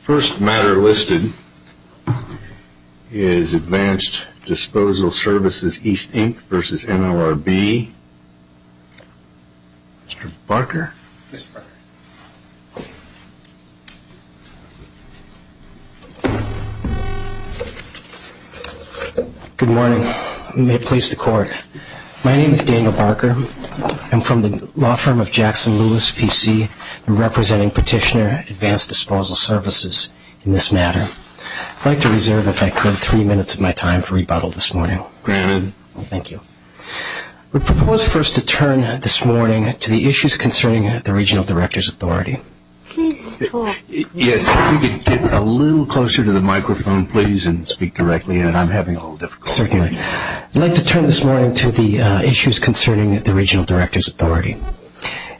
First matter listed is Advanced Disposal Services, East Inc. v. NLRB. Mr. Barker. Good morning. May it please the court. My name is Daniel Barker. I'm from the law firm of Jackson-Lewis PC. I'm representing Petitioner Advanced Disposal Services in this matter. I'd like to reserve, if I could, three minutes of my time for rebuttal this morning. Granted. Thank you. We propose first to turn this morning to the issues concerning the Regional Directors' Authority. Please, the court. Yes, if you could get a little closer to the microphone, please, and speak directly. I'm having a little difficulty. Certainly. I'd like to turn this morning to the issues concerning the Regional Directors' Authority.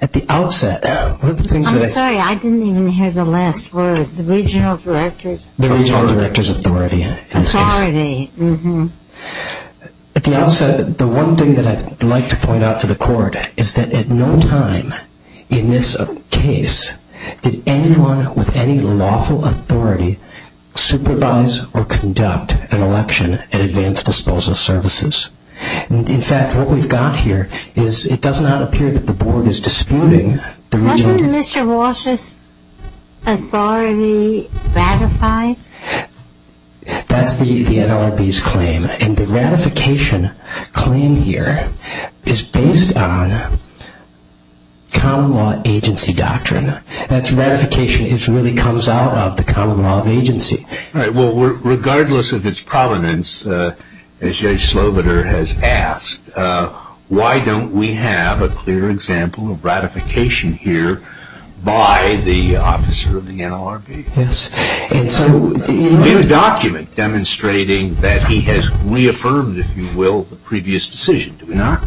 At the outset... I'm sorry. I didn't even hear the last word. The Regional Directors... The Regional Directors' Authority. Authority. At the outset, the one thing that I'd like to point out to the court is that at no time in this case did anyone with any lawful authority supervise or conduct an election at Advanced Disposal Services. In fact, what we've got here is it does not appear that the Board is disputing the Regional... Wasn't Mr. Walsh's authority ratified? That's the NLRB's claim, and the ratification claim here is based on common law agency doctrine. That's ratification. It really comes out of the common law of agency. Right. Well, regardless of its provenance, as Judge Slobodur has asked, why don't we have a clear example of ratification here by the officer of the NLRB? Yes. And so... We have a document demonstrating that he has reaffirmed, if you will, the previous decision, do we not?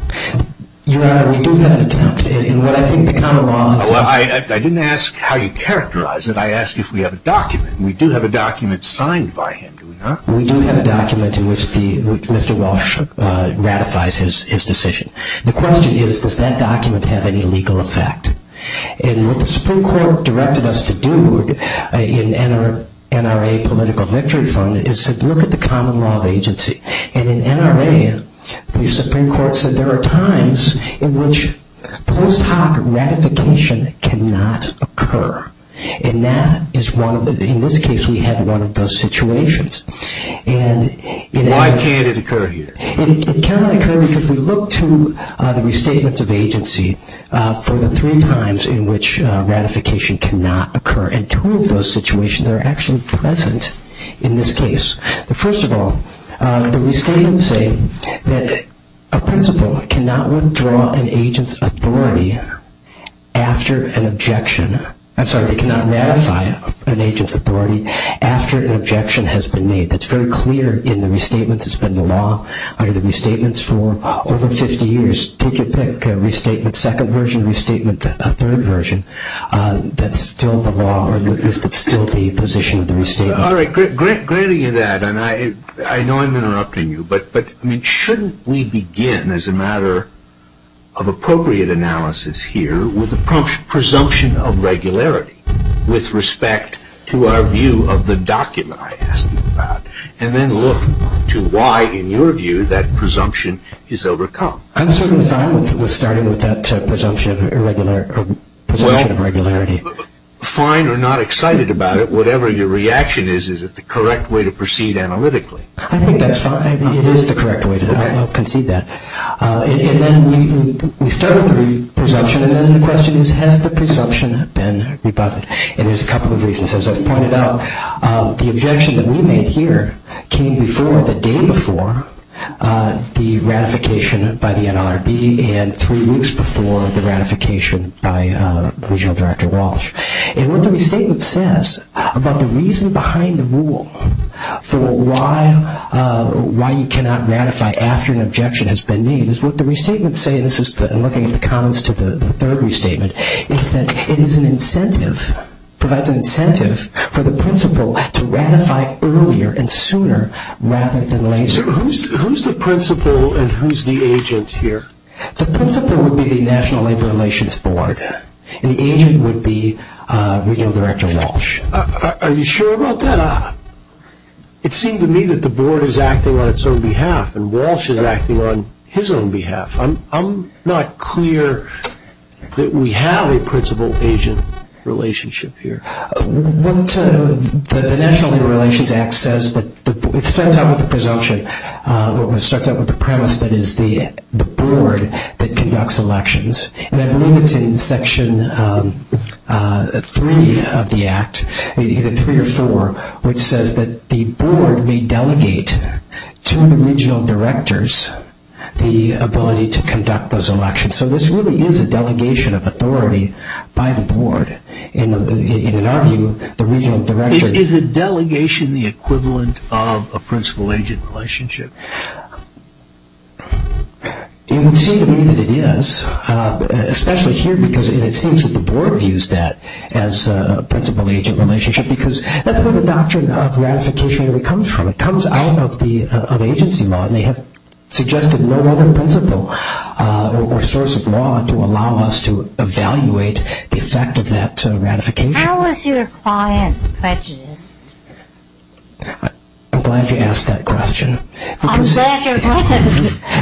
Your Honor, we do have an attempt, and what I think the common law of... I didn't ask how you characterize it. I asked if we have a document. We do have a document signed by him, do we not? We do have a document in which Mr. Walsh ratifies his decision. The question is, does that document have any legal effect? And what the Supreme Court directed us to do in NRA Political Victory Fund is to look at the common law of agency. And in NRA, the Supreme Court said there are times in which post hoc ratification cannot occur. And that is one of the... In this case, we have one of those situations. Why can't it occur here? It cannot occur because we look to the restatements of agency for the three times in which ratification cannot occur. And two of those situations are actually present in this case. First of all, the restatements say that a principal cannot withdraw an agent's authority after an objection... I'm sorry, they cannot ratify an agent's authority after an objection has been made. That's very clear in the restatements. It's been the law under the restatements for over 50 years. Take your pick, restatement second version, restatement third version. That's still the law, or at least it's still the position of the restatement. All right, granting you that, and I know I'm interrupting you, but shouldn't we begin as a matter of appropriate analysis here with the presumption of regularity with respect to our view of the document I asked you about, and then look to why, in your view, that presumption is overcome? I'm certainly fine with starting with that presumption of regularity. Fine or not excited about it, whatever your reaction is, is it the correct way to proceed analytically? I think that's fine. It is the correct way to concede that. And then we start with the presumption, and then the question is, has the presumption been rebutted? And there's a couple of reasons. As I've pointed out, the objection that we made here came before, the day before, the ratification by the NRB and three weeks before the ratification by Regional Director Walsh. And what the restatement says about the reason behind the rule for why you cannot ratify after an objection has been made is what the restatement says, and I'm looking at the comments to the third restatement, is that it is an incentive, provides an incentive for the principal to ratify earlier and sooner rather than later. So who's the principal and who's the agent here? The principal would be the National Labor Relations Board, and the agent would be Regional Director Walsh. Are you sure about that? It seemed to me that the board is acting on its own behalf, and Walsh is acting on his own behalf. I'm not clear that we have a principal-agent relationship here. What the National Labor Relations Act says, it starts out with the presumption, or it starts out with the premise that it is the board that conducts elections. And I believe it's in Section 3 of the Act, either 3 or 4, which says that the board may delegate to the Regional Directors the ability to conduct those elections. So this really is a delegation of authority by the board. In our view, the Regional Directors. Is a delegation the equivalent of a principal-agent relationship? It would seem to me that it is, especially here because it seems that the board views that as a principal-agent relationship because that's where the doctrine of ratification really comes from. It comes out of agency law, and they have suggested no other principle or source of law to allow us to evaluate the effect of that ratification. How is your client prejudiced? I'm glad you asked that question. I'm sad you're not.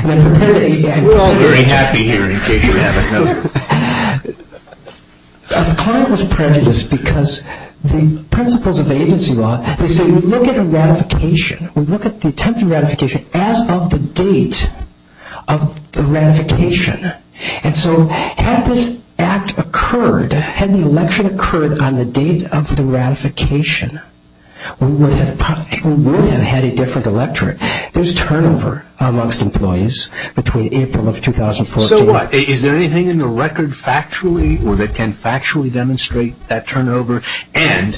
We're all very happy here in case you haven't noticed. The client was prejudiced because the principles of agency law, they say we look at a ratification, we look at the attempted ratification, as of the date of the ratification. And so had this act occurred, had the election occurred on the date of the ratification, we would have had a different electorate. There's turnover amongst employees between April of 2014... So what? Is there anything in the record factually, or that can factually demonstrate that turnover? And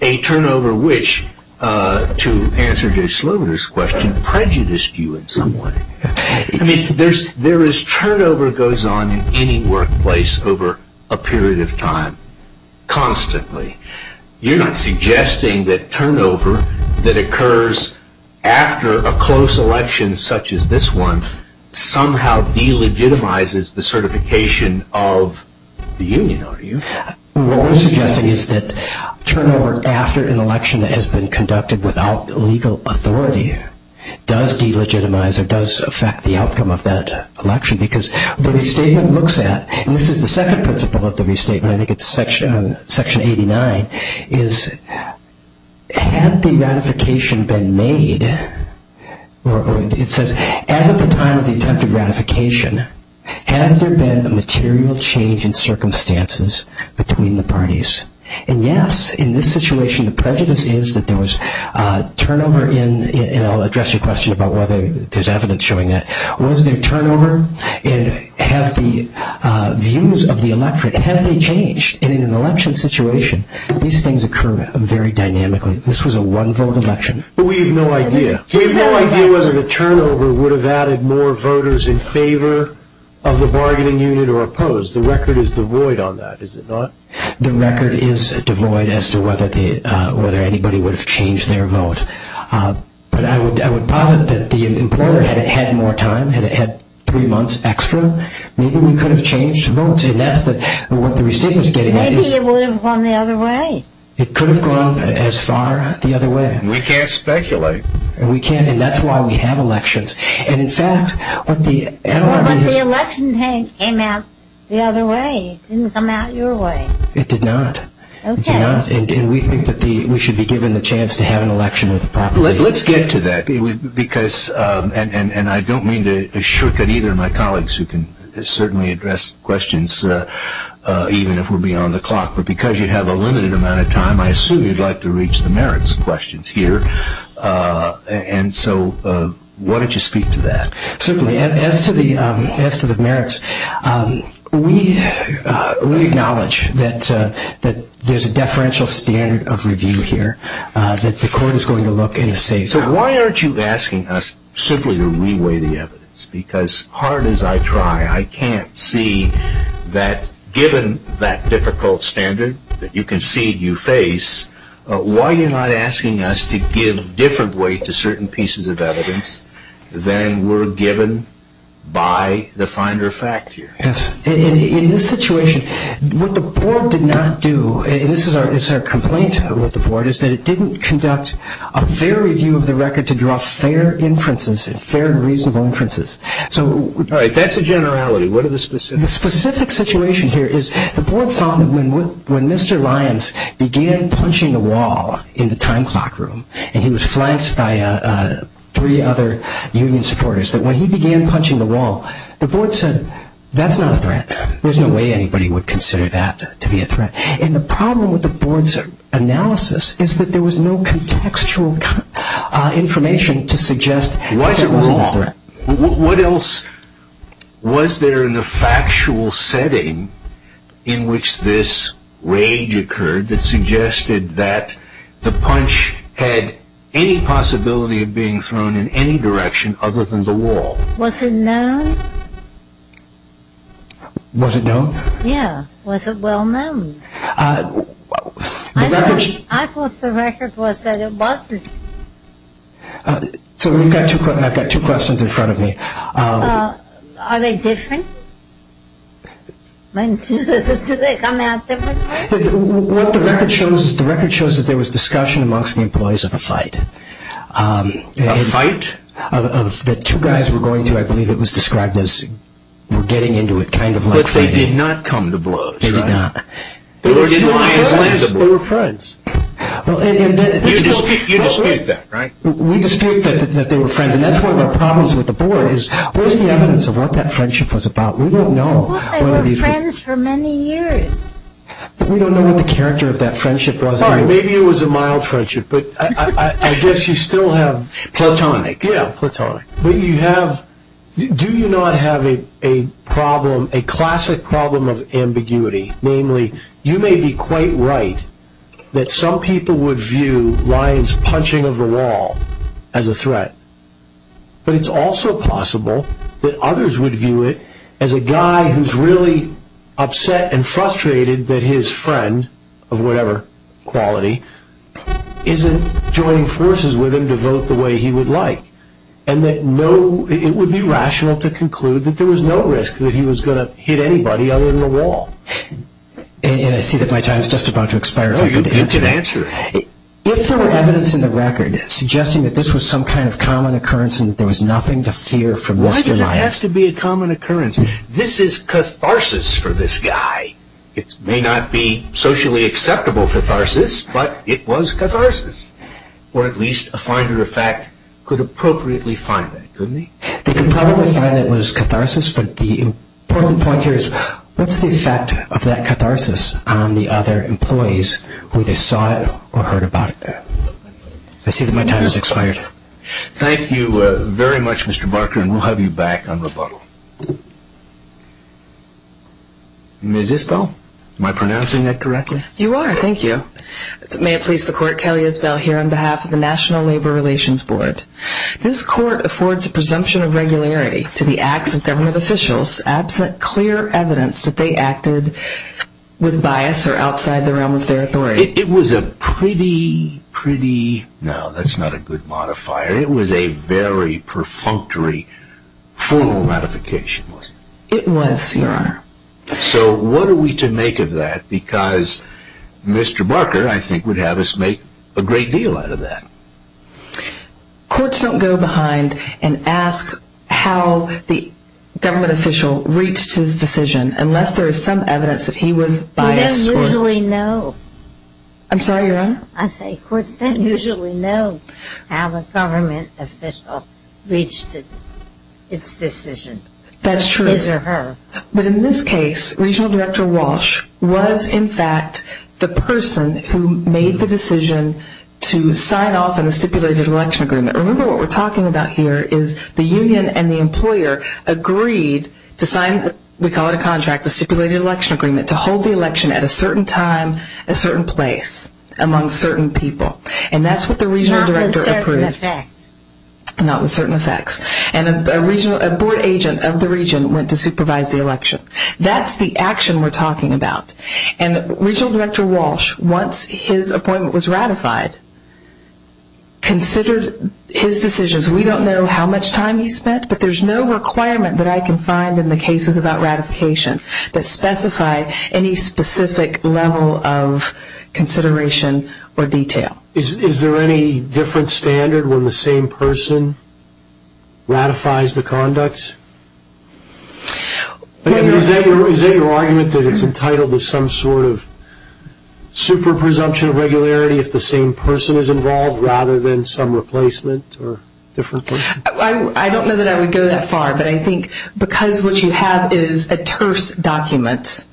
a turnover which, to answer Jay Sloan's question, prejudiced you in some way. I mean, there is turnover that goes on in any workplace over a period of time, constantly. You're not suggesting that turnover that occurs after a close election such as this one somehow delegitimizes the certification of the union, are you? What we're suggesting is that turnover after an election that has been conducted without legal authority does delegitimize or does affect the outcome of that election. Because the restatement looks at, and this is the second principle of the restatement, I think it's section 89, is had the ratification been made, or it says, as of the time of the attempted ratification, has there been a material change in circumstances between the parties? And yes, in this situation the prejudice is that there was turnover in, and I'll address your question about whether there's evidence showing that, was there turnover, and have the views of the electorate, have they changed in an election situation? These things occur very dynamically. This was a one-vote election. But we have no idea. We have no idea whether the turnover would have added more voters in favor of the bargaining unit or opposed. The record is devoid on that, is it not? The record is devoid as to whether anybody would have changed their vote. But I would posit that the employer, had it had more time, had it had three months extra, maybe we could have changed votes, and that's what the restatement is getting at. Maybe it would have gone the other way. It could have gone as far the other way. We can't speculate. We can't, and that's why we have elections. And in fact, what the NLRB is... But the election came out the other way. It didn't come out your way. It did not. It did not, and we think that we should be given the chance to have an election with the property. Let's get to that because, and I don't mean to shortcut either of my colleagues who can certainly address questions, even if we're beyond the clock, but because you have a limited amount of time, I assume you'd like to reach the merits questions here. And so why don't you speak to that? Certainly. As to the merits, we acknowledge that there's a deferential standard of review here, that the court is going to look and see. So why aren't you asking us simply to reweigh the evidence? Because hard as I try, I can't see that given that difficult standard that you concede you face, why are you not asking us to give different weight to certain pieces of evidence than were given by the finder of fact here? Yes. In this situation, what the board did not do, and this is our complaint with the board, is that it didn't conduct a fair review of the record to draw fair inferences, fair and reasonable inferences. All right, that's a generality. What are the specifics? The specific situation here is the board found that when Mr. Lyons began punching the wall in the time clock room, and he was flanked by three other union supporters, that when he began punching the wall, the board said, that's not a threat. There's no way anybody would consider that to be a threat. And the problem with the board's analysis is that there was no contextual information to suggest that it wasn't a threat. Why is it wrong? What else was there in the factual setting in which this rage occurred that suggested that the punch had any possibility of being thrown in any direction other than the wall? Was it known? Was it known? Yeah, was it well known? I thought the record was that it wasn't. So I've got two questions in front of me. Are they different? Do they come out different? What the record shows is that there was discussion amongst the employees of a fight. A fight? A fight that two guys were going to, I believe it was described as, were getting into it kind of like fighting. But they did not come to blows, right? They did not. They were friends. You dispute that, right? We dispute that they were friends, and that's one of our problems with the board, is where's the evidence of what that friendship was about? We don't know. Well, they were friends for many years. But we don't know what the character of that friendship was. Sorry, maybe it was a mild friendship, but I guess you still have... Platonic. Yeah, platonic. But you have, do you not have a problem, a classic problem of ambiguity? Namely, you may be quite right that some people would view Ryan's punching of the wall as a threat, but it's also possible that others would view it as a guy who's really upset and frustrated that his friend of whatever quality isn't joining forces with him to vote the way he would like, and that it would be rational to conclude that there was no risk that he was going to hit anybody other than the wall. And I see that my time is just about to expire if I'm going to answer. You can answer. If there were evidence in the record suggesting that this was some kind of common occurrence and there was nothing to fear from this denial... Why does it have to be a common occurrence? This is catharsis for this guy. It may not be socially acceptable catharsis, but it was catharsis, or at least a finder of fact could appropriately find that, couldn't he? They could probably find that it was catharsis, but the important point here is what's the effect of that catharsis on the other employees who either saw it or heard about it? I see that my time has expired. Thank you very much, Mr. Barker, and we'll have you back on rebuttal. Ms. Isbell, am I pronouncing that correctly? You are, thank you. May it please the court, Kelly Isbell here on behalf of the National Labor Relations Board. This court affords a presumption of regularity to the acts of government officials absent clear evidence that they acted with bias or outside the realm of their authority. It was a pretty, pretty... No, that's not a good modifier. It was a very perfunctory formal modification, wasn't it? It was, Your Honor. So what are we to make of that? Because Mr. Barker, I think, would have us make a great deal out of that. Courts don't go behind and ask how the government official reached his decision unless there is some evidence that he was biased. We don't usually know. I'm sorry, Your Honor? I say courts don't usually know how a government official reached its decision. That's true. His or her. But in this case, Regional Director Walsh was, in fact, the person who made the decision to sign off on the stipulated election agreement. Remember what we're talking about here is the union and the employer agreed to sign, we call it a contract, a stipulated election agreement, to hold the election at a certain time, a certain place, among certain people. And that's what the Regional Director approved. Not with certain effects. Not with certain effects. And a Board agent of the Region went to supervise the election. That's the action we're talking about. And Regional Director Walsh, once his appointment was ratified, considered his decisions. We don't know how much time he spent, but there's no requirement that I can find in the cases about ratification that specify any specific level of consideration or detail. Is there any different standard when the same person ratifies the conduct? Is that your argument that it's entitled to some sort of super presumption of regularity if the same person is involved rather than some replacement or different person? I don't know that I would go that far, but I think because what you have is a terse document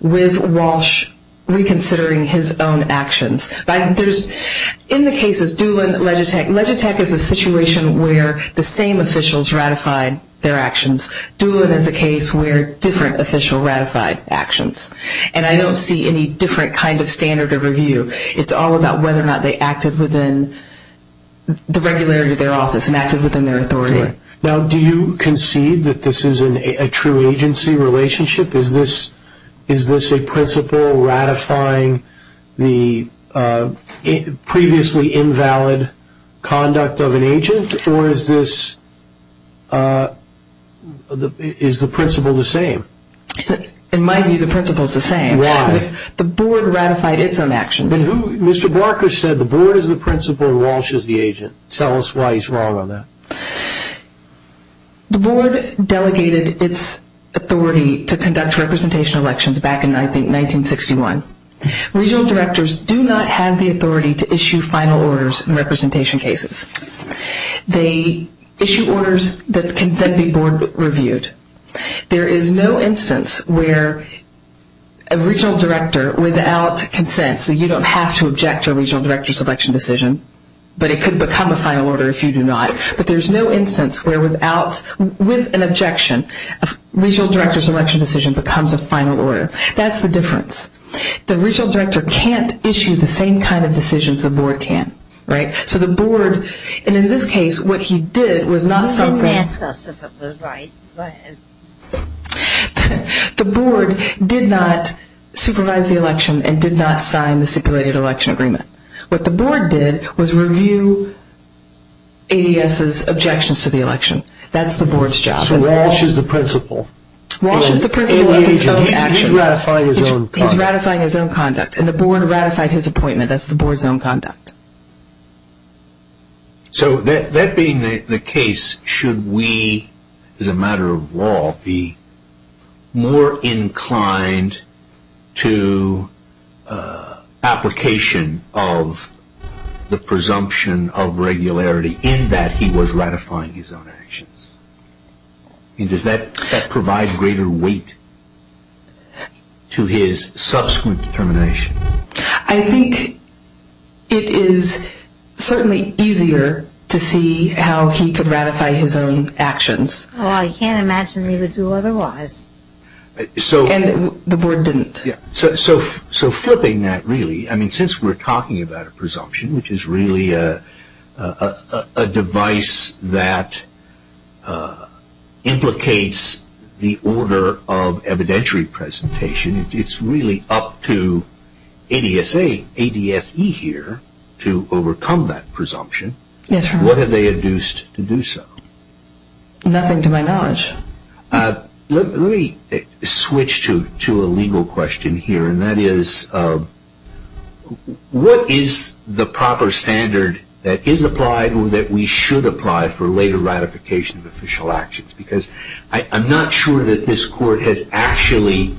with Walsh reconsidering his own actions. In the cases, Doolin, Legitech, Legitech is a situation where the same officials ratified their actions. Doolin is a case where different officials ratified actions. And I don't see any different kind of standard of review. It's all about whether or not they acted within the regularity of their office and acted within their authority. Now, do you concede that this is a true agency relationship? Is this a principle ratifying the previously invalid conduct of an agent, or is the principle the same? It might be the principle is the same. Why? The board ratified its own actions. Mr. Barker said the board is the principle and Walsh is the agent. Tell us why he's wrong on that. The board delegated its authority to conduct representation elections back in, I think, 1961. Regional directors do not have the authority to issue final orders in representation cases. They issue orders that can then be board reviewed. There is no instance where a regional director, without consent, so you don't have to object to a regional director's election decision, but it could become a final order if you do not, but there's no instance where without, with an objection, a regional director's election decision becomes a final order. That's the difference. The regional director can't issue the same kind of decisions the board can, right? So the board, and in this case, what he did was not something. You didn't ask us if it was right. The board did not supervise the election and did not sign the stipulated election agreement. What the board did was review ADS's objections to the election. That's the board's job. So Walsh is the principle. Walsh is the principle of its own actions. He's ratifying his own conduct. He's ratifying his own conduct, and the board ratified his appointment. That's the board's own conduct. So that being the case, should we, as a matter of law, be more inclined to application of the presumption of regularity in that he was ratifying his own actions? Does that provide greater weight to his subsequent determination? I think it is certainly easier to see how he could ratify his own actions. Well, I can't imagine he would do otherwise. And the board didn't. So flipping that, really, I mean, since we're talking about a presumption, which is really a device that implicates the order of evidentiary presentation, it's really up to ADSE here to overcome that presumption. What have they induced to do so? Nothing to my knowledge. Let me switch to a legal question here. And that is, what is the proper standard that is applied or that we should apply for later ratification of official actions? Because I'm not sure that this Court has actually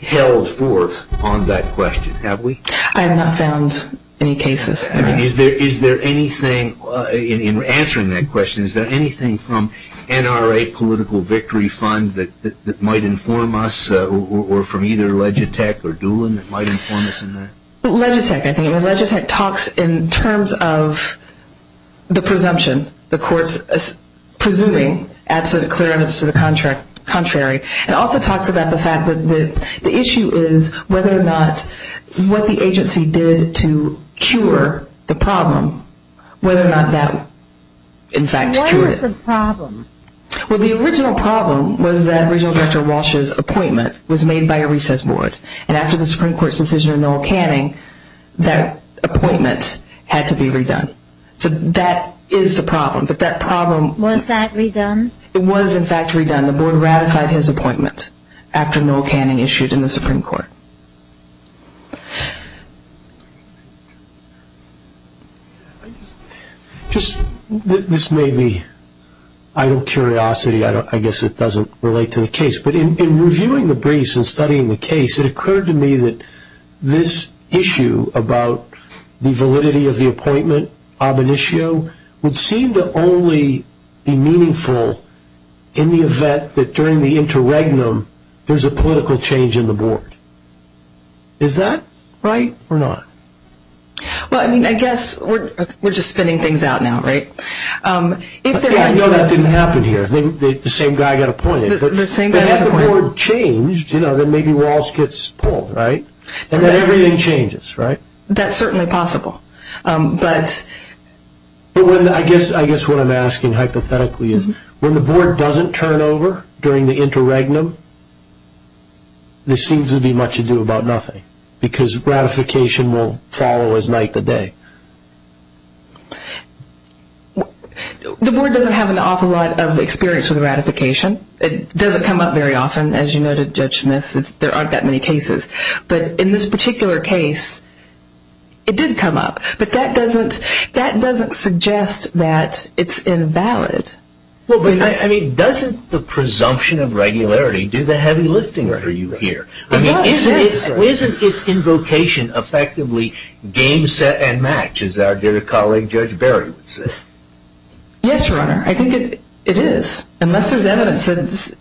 held forth on that question, have we? I have not found any cases. Is there anything in answering that question, is there anything from NRA Political Victory Fund that might inform us or from either Legitech or Doolin that might inform us in that? Legitech, I think. Legitech talks in terms of the presumption, the Court's presuming absolute clearness to the contrary. It also talks about the fact that the issue is whether or not what the agency did to cure the problem, whether or not that, in fact, cured it. What was the problem? Well, the original problem was that Regional Director Walsh's appointment was made by a recess board. And after the Supreme Court's decision on Noel Canning, that appointment had to be redone. So that is the problem. But that problem... Was that redone? It was, in fact, redone. The Board ratified his appointment after Noel Canning issued in the Supreme Court. This may be out of curiosity. I guess it doesn't relate to the case. But in reviewing the briefs and studying the case, it occurred to me that this issue about the validity of the appointment, ab initio, would seem to only be meaningful in the event that during the interregnum, there's a political change in the Board. Is that right or not? Well, I mean, I guess we're just spinning things out now, right? I know that didn't happen here. The same guy got appointed. But had the Board changed, you know, then maybe Walsh gets pulled, right? Then everything changes, right? That's certainly possible. But I guess what I'm asking hypothetically is, when the Board doesn't turn over during the interregnum, this seems to be much ado about nothing because ratification will follow as night to day. The Board doesn't have an awful lot of experience with ratification. It doesn't come up very often. As you noted, Judge Smith, there aren't that many cases. But in this particular case, it did come up. But that doesn't suggest that it's invalid. Well, I mean, doesn't the presumption of regularity do the heavy lifting for you here? I mean, isn't its invocation effectively game set and match, as our dear colleague Judge Berry would say? Yes, Your Honor. I think it is, unless there's evidence that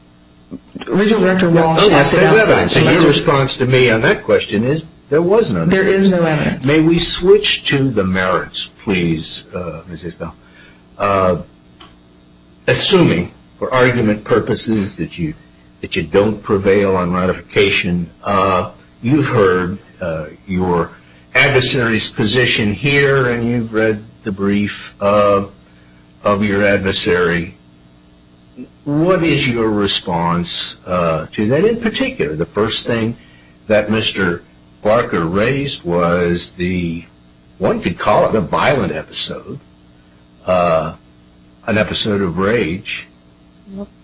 Original Director Walsh has said otherwise. Unless there's evidence. And your response to me on that question is there was no evidence. There is no evidence. May we switch to the merits, please, Ms. Isbell? Assuming, for argument purposes, that you don't prevail on ratification, you've heard your adversary's position here and you've read the brief of your adversary. What is your response to that? In particular, the first thing that Mr. Barker raised was the, one could call it a violent episode. An episode of rage.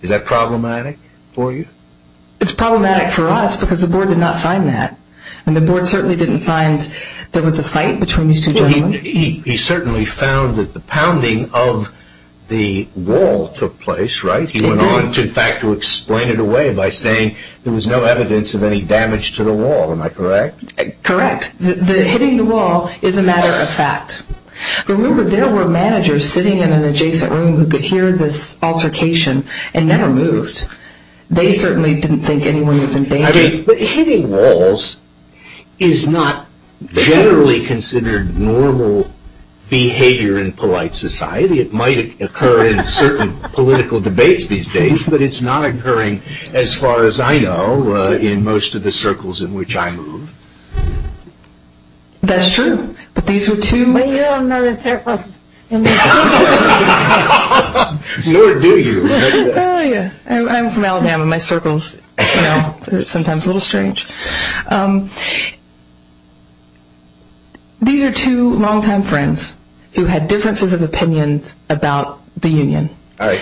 Is that problematic for you? It's problematic for us because the Board did not find that. And the Board certainly didn't find there was a fight between these two gentlemen. He certainly found that the pounding of the wall took place, right? He went on, in fact, to explain it away by saying there was no evidence of any damage to the wall. Am I correct? Correct. The hitting the wall is a matter of fact. Remember, there were managers sitting in an adjacent room who could hear this altercation and never moved. They certainly didn't think anyone was in danger. Hitting walls is not generally considered normal behavior in polite society. It might occur in certain political debates these days, but it's not occurring as far as I know in most of the circles in which I move. That's true. But you don't know the circles. Nor do you. I'm from Alabama. My circles are sometimes a little strange. These are two long-time friends who had differences of opinion about the union.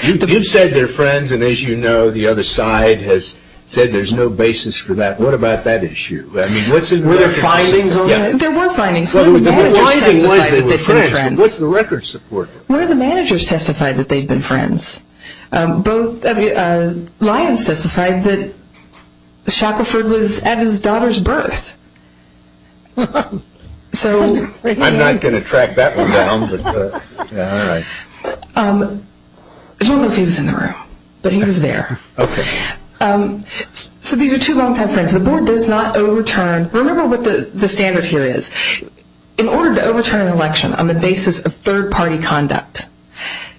You've said they're friends, and as you know, the other side has said there's no basis for that. What about that issue? Were there findings? There were findings. One of the managers testified that they'd been friends. What's the record support for? One of the managers testified that they'd been friends. Lyons testified that Shackelford was at his daughter's birth. I'm not going to track that one down. I don't know if he was in the room, but he was there. So these are two long-time friends. The board does not overturn. Remember what the standard here is. In order to overturn an election on the basis of third-party conduct,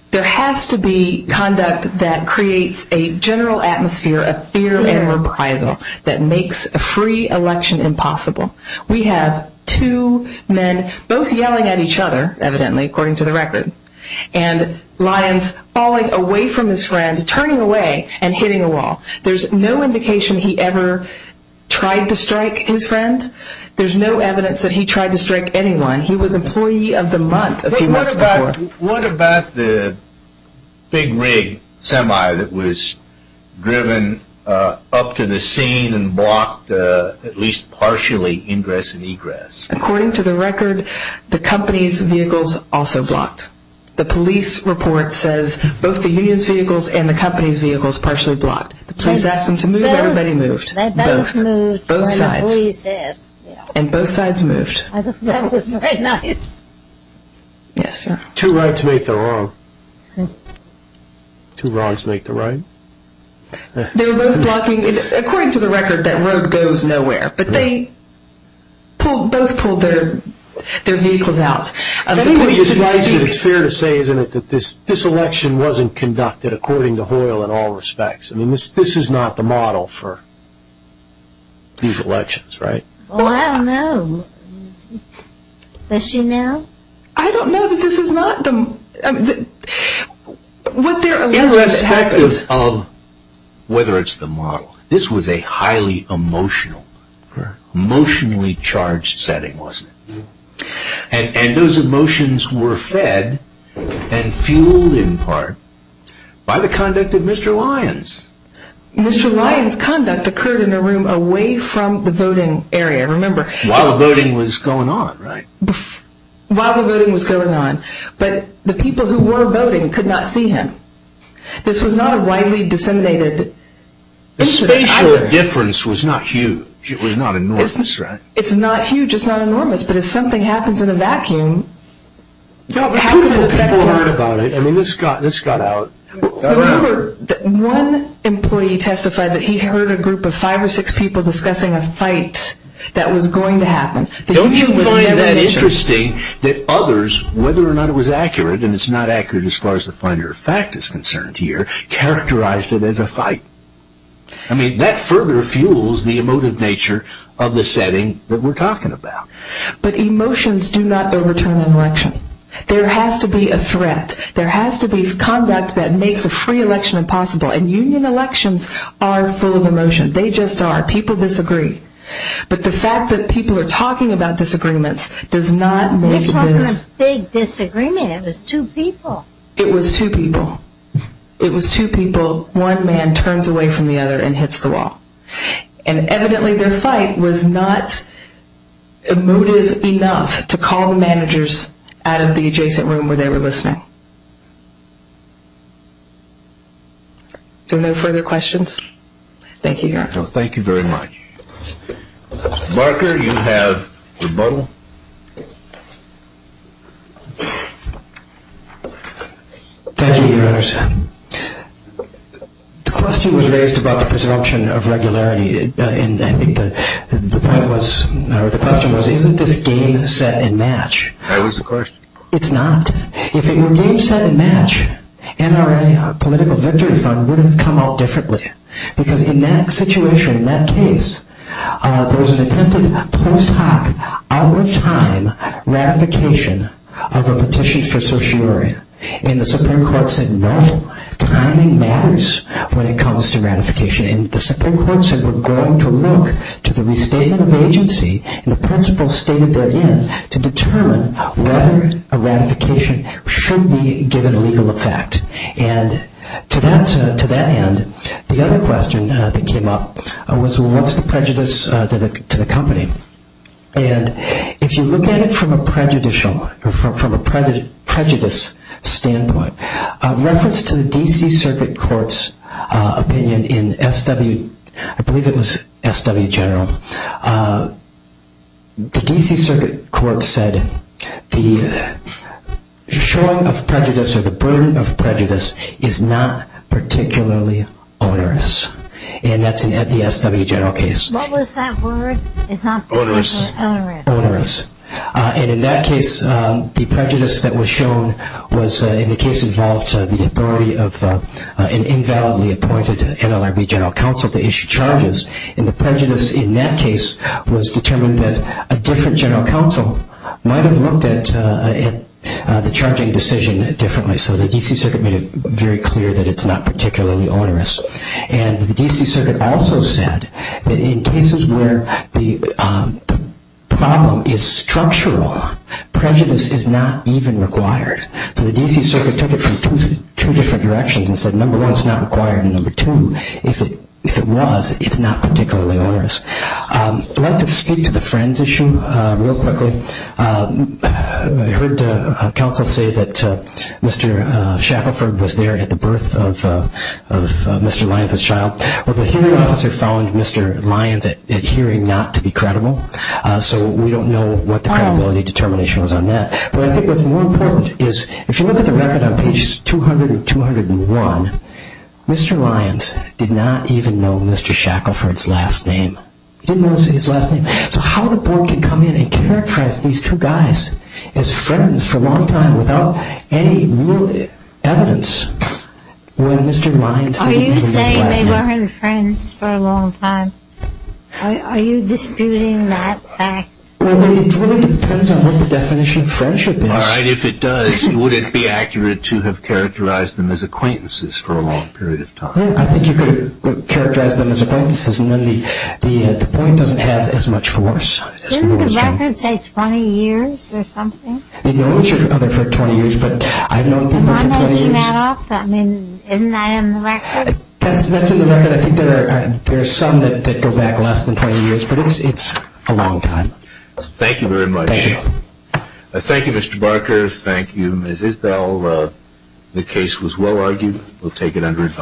there has to be conduct that creates a general atmosphere of fear and reprisal that makes a free election impossible. We have two men both yelling at each other, evidently, according to the record, and Lyons falling away from his friend, turning away and hitting a wall. There's no indication he ever tried to strike his friend. There's no evidence that he tried to strike anyone. He was employee of the month a few months before. What about the big rig semi that was driven up to the scene and blocked at least partially ingress and egress? According to the record, the company's vehicles also blocked. The police report says both the union's vehicles and the company's vehicles partially blocked. The police asked them to move, and everybody moved. They both moved when the police asked. And both sides moved. That was very nice. Two rights make the wrong. Two wrongs make the right. They were both blocking. According to the record, that road goes nowhere. But they both pulled their vehicles out. It's fair to say, isn't it, that this election wasn't conducted according to Hoyle in all respects. This is not the model for these elections, right? I don't know. Does she know? I don't know that this is not the model. Irrespective of whether it's the model, this was a highly emotional, emotionally charged setting, wasn't it? And those emotions were fed and fueled in part by the conduct of Mr. Lyons. Mr. Lyons' conduct occurred in a room away from the voting area. While the voting was going on, right? While the voting was going on. But the people who were voting could not see him. This was not a widely disseminated incident. The spatial difference was not huge. It was not enormous, right? It's not huge. It's not enormous. But if something happens in a vacuum, how can it affect the vote? I mean, this got out. One employee testified that he heard a group of five or six people discussing a fight that was going to happen. Don't you find that interesting that others, whether or not it was accurate, and it's not accurate as far as the finer of fact is concerned here, characterized it as a fight? I mean, that further fuels the emotive nature of the setting that we're talking about. But emotions do not overturn an election. There has to be a threat. There has to be conduct that makes a free election impossible. And union elections are full of emotion. They just are. People disagree. But the fact that people are talking about disagreements does not make this. It wasn't a big disagreement. It was two people. It was two people. It was two people. One man turns away from the other and hits the wall. And evidently their fight was not emotive enough to call the managers out of the adjacent room where they were listening. Are there no further questions? Thank you. Thank you very much. Marker, you have rebuttal. Thank you, Your Honor. The question was raised about the presumption of regularity. And I think the point was, or the question was, isn't this game set and match? That was the question. It's not. If it were game set and match, NRA, our political victory fund, would have come out differently. Because in that situation, in that case, there was an attempted post hoc, out-of-time ratification of a petition for sociology. And the Supreme Court said, no, timing matters when it comes to ratification. And the Supreme Court said, we're going to look to the restatement of agency and the principles stated therein to determine whether a ratification should be given legal effect. And to that end, the other question that came up was, what's the prejudice to the company? And if you look at it from a prejudicial or from a prejudice standpoint, reference to the D.C. Circuit Court's opinion in S.W., I believe it was S.W. General, the D.C. Circuit Court said the showing of prejudice or the burden of prejudice is not particularly onerous. And that's in the S.W. General case. What was that word? Onerous. Onerous. Onerous. And in that case, the prejudice that was shown was, in the case involved, the authority of an invalidly appointed NLRB general counsel to issue charges. And the prejudice in that case was determined that a different general counsel might have looked at the charging decision differently. So the D.C. Circuit made it very clear that it's not particularly onerous. And the D.C. Circuit also said that in cases where the problem is structural, prejudice is not even required. So the D.C. Circuit took it from two different directions and said, number one, it's not required, and number two, if it was, it's not particularly onerous. I'd like to speak to the friends issue real quickly. I heard counsel say that Mr. Shackelford was there at the birth of Mr. Lyons' child. Well, the hearing officer found Mr. Lyons' adhering not to be credible, so we don't know what the credibility determination was on that. But I think what's more important is, if you look at the record on pages 200 and 201, Mr. Lyons did not even know Mr. Shackelford's last name. He didn't know his last name. So how the board can come in and characterize these two guys as friends for a long time without any real evidence when Mr. Lyons didn't even know his last name? Are you saying they weren't friends for a long time? Are you disputing that fact? Well, it really depends on what the definition of friendship is. All right. If it does, would it be accurate to have characterized them as acquaintances for a long period of time? I think you could characterize them as acquaintances, and then the point doesn't have as much force. Isn't the record saying 20 years or something? They know each other for 20 years, but I've known people for 20 years. Am I making that up? That's in the record. I think there are some that go back less than 20 years, but it's a long time. Thank you very much. Thank you. Thank you, Mr. Barker. Thank you, Ms. Isbell. The case was well argued. We'll take it under advice.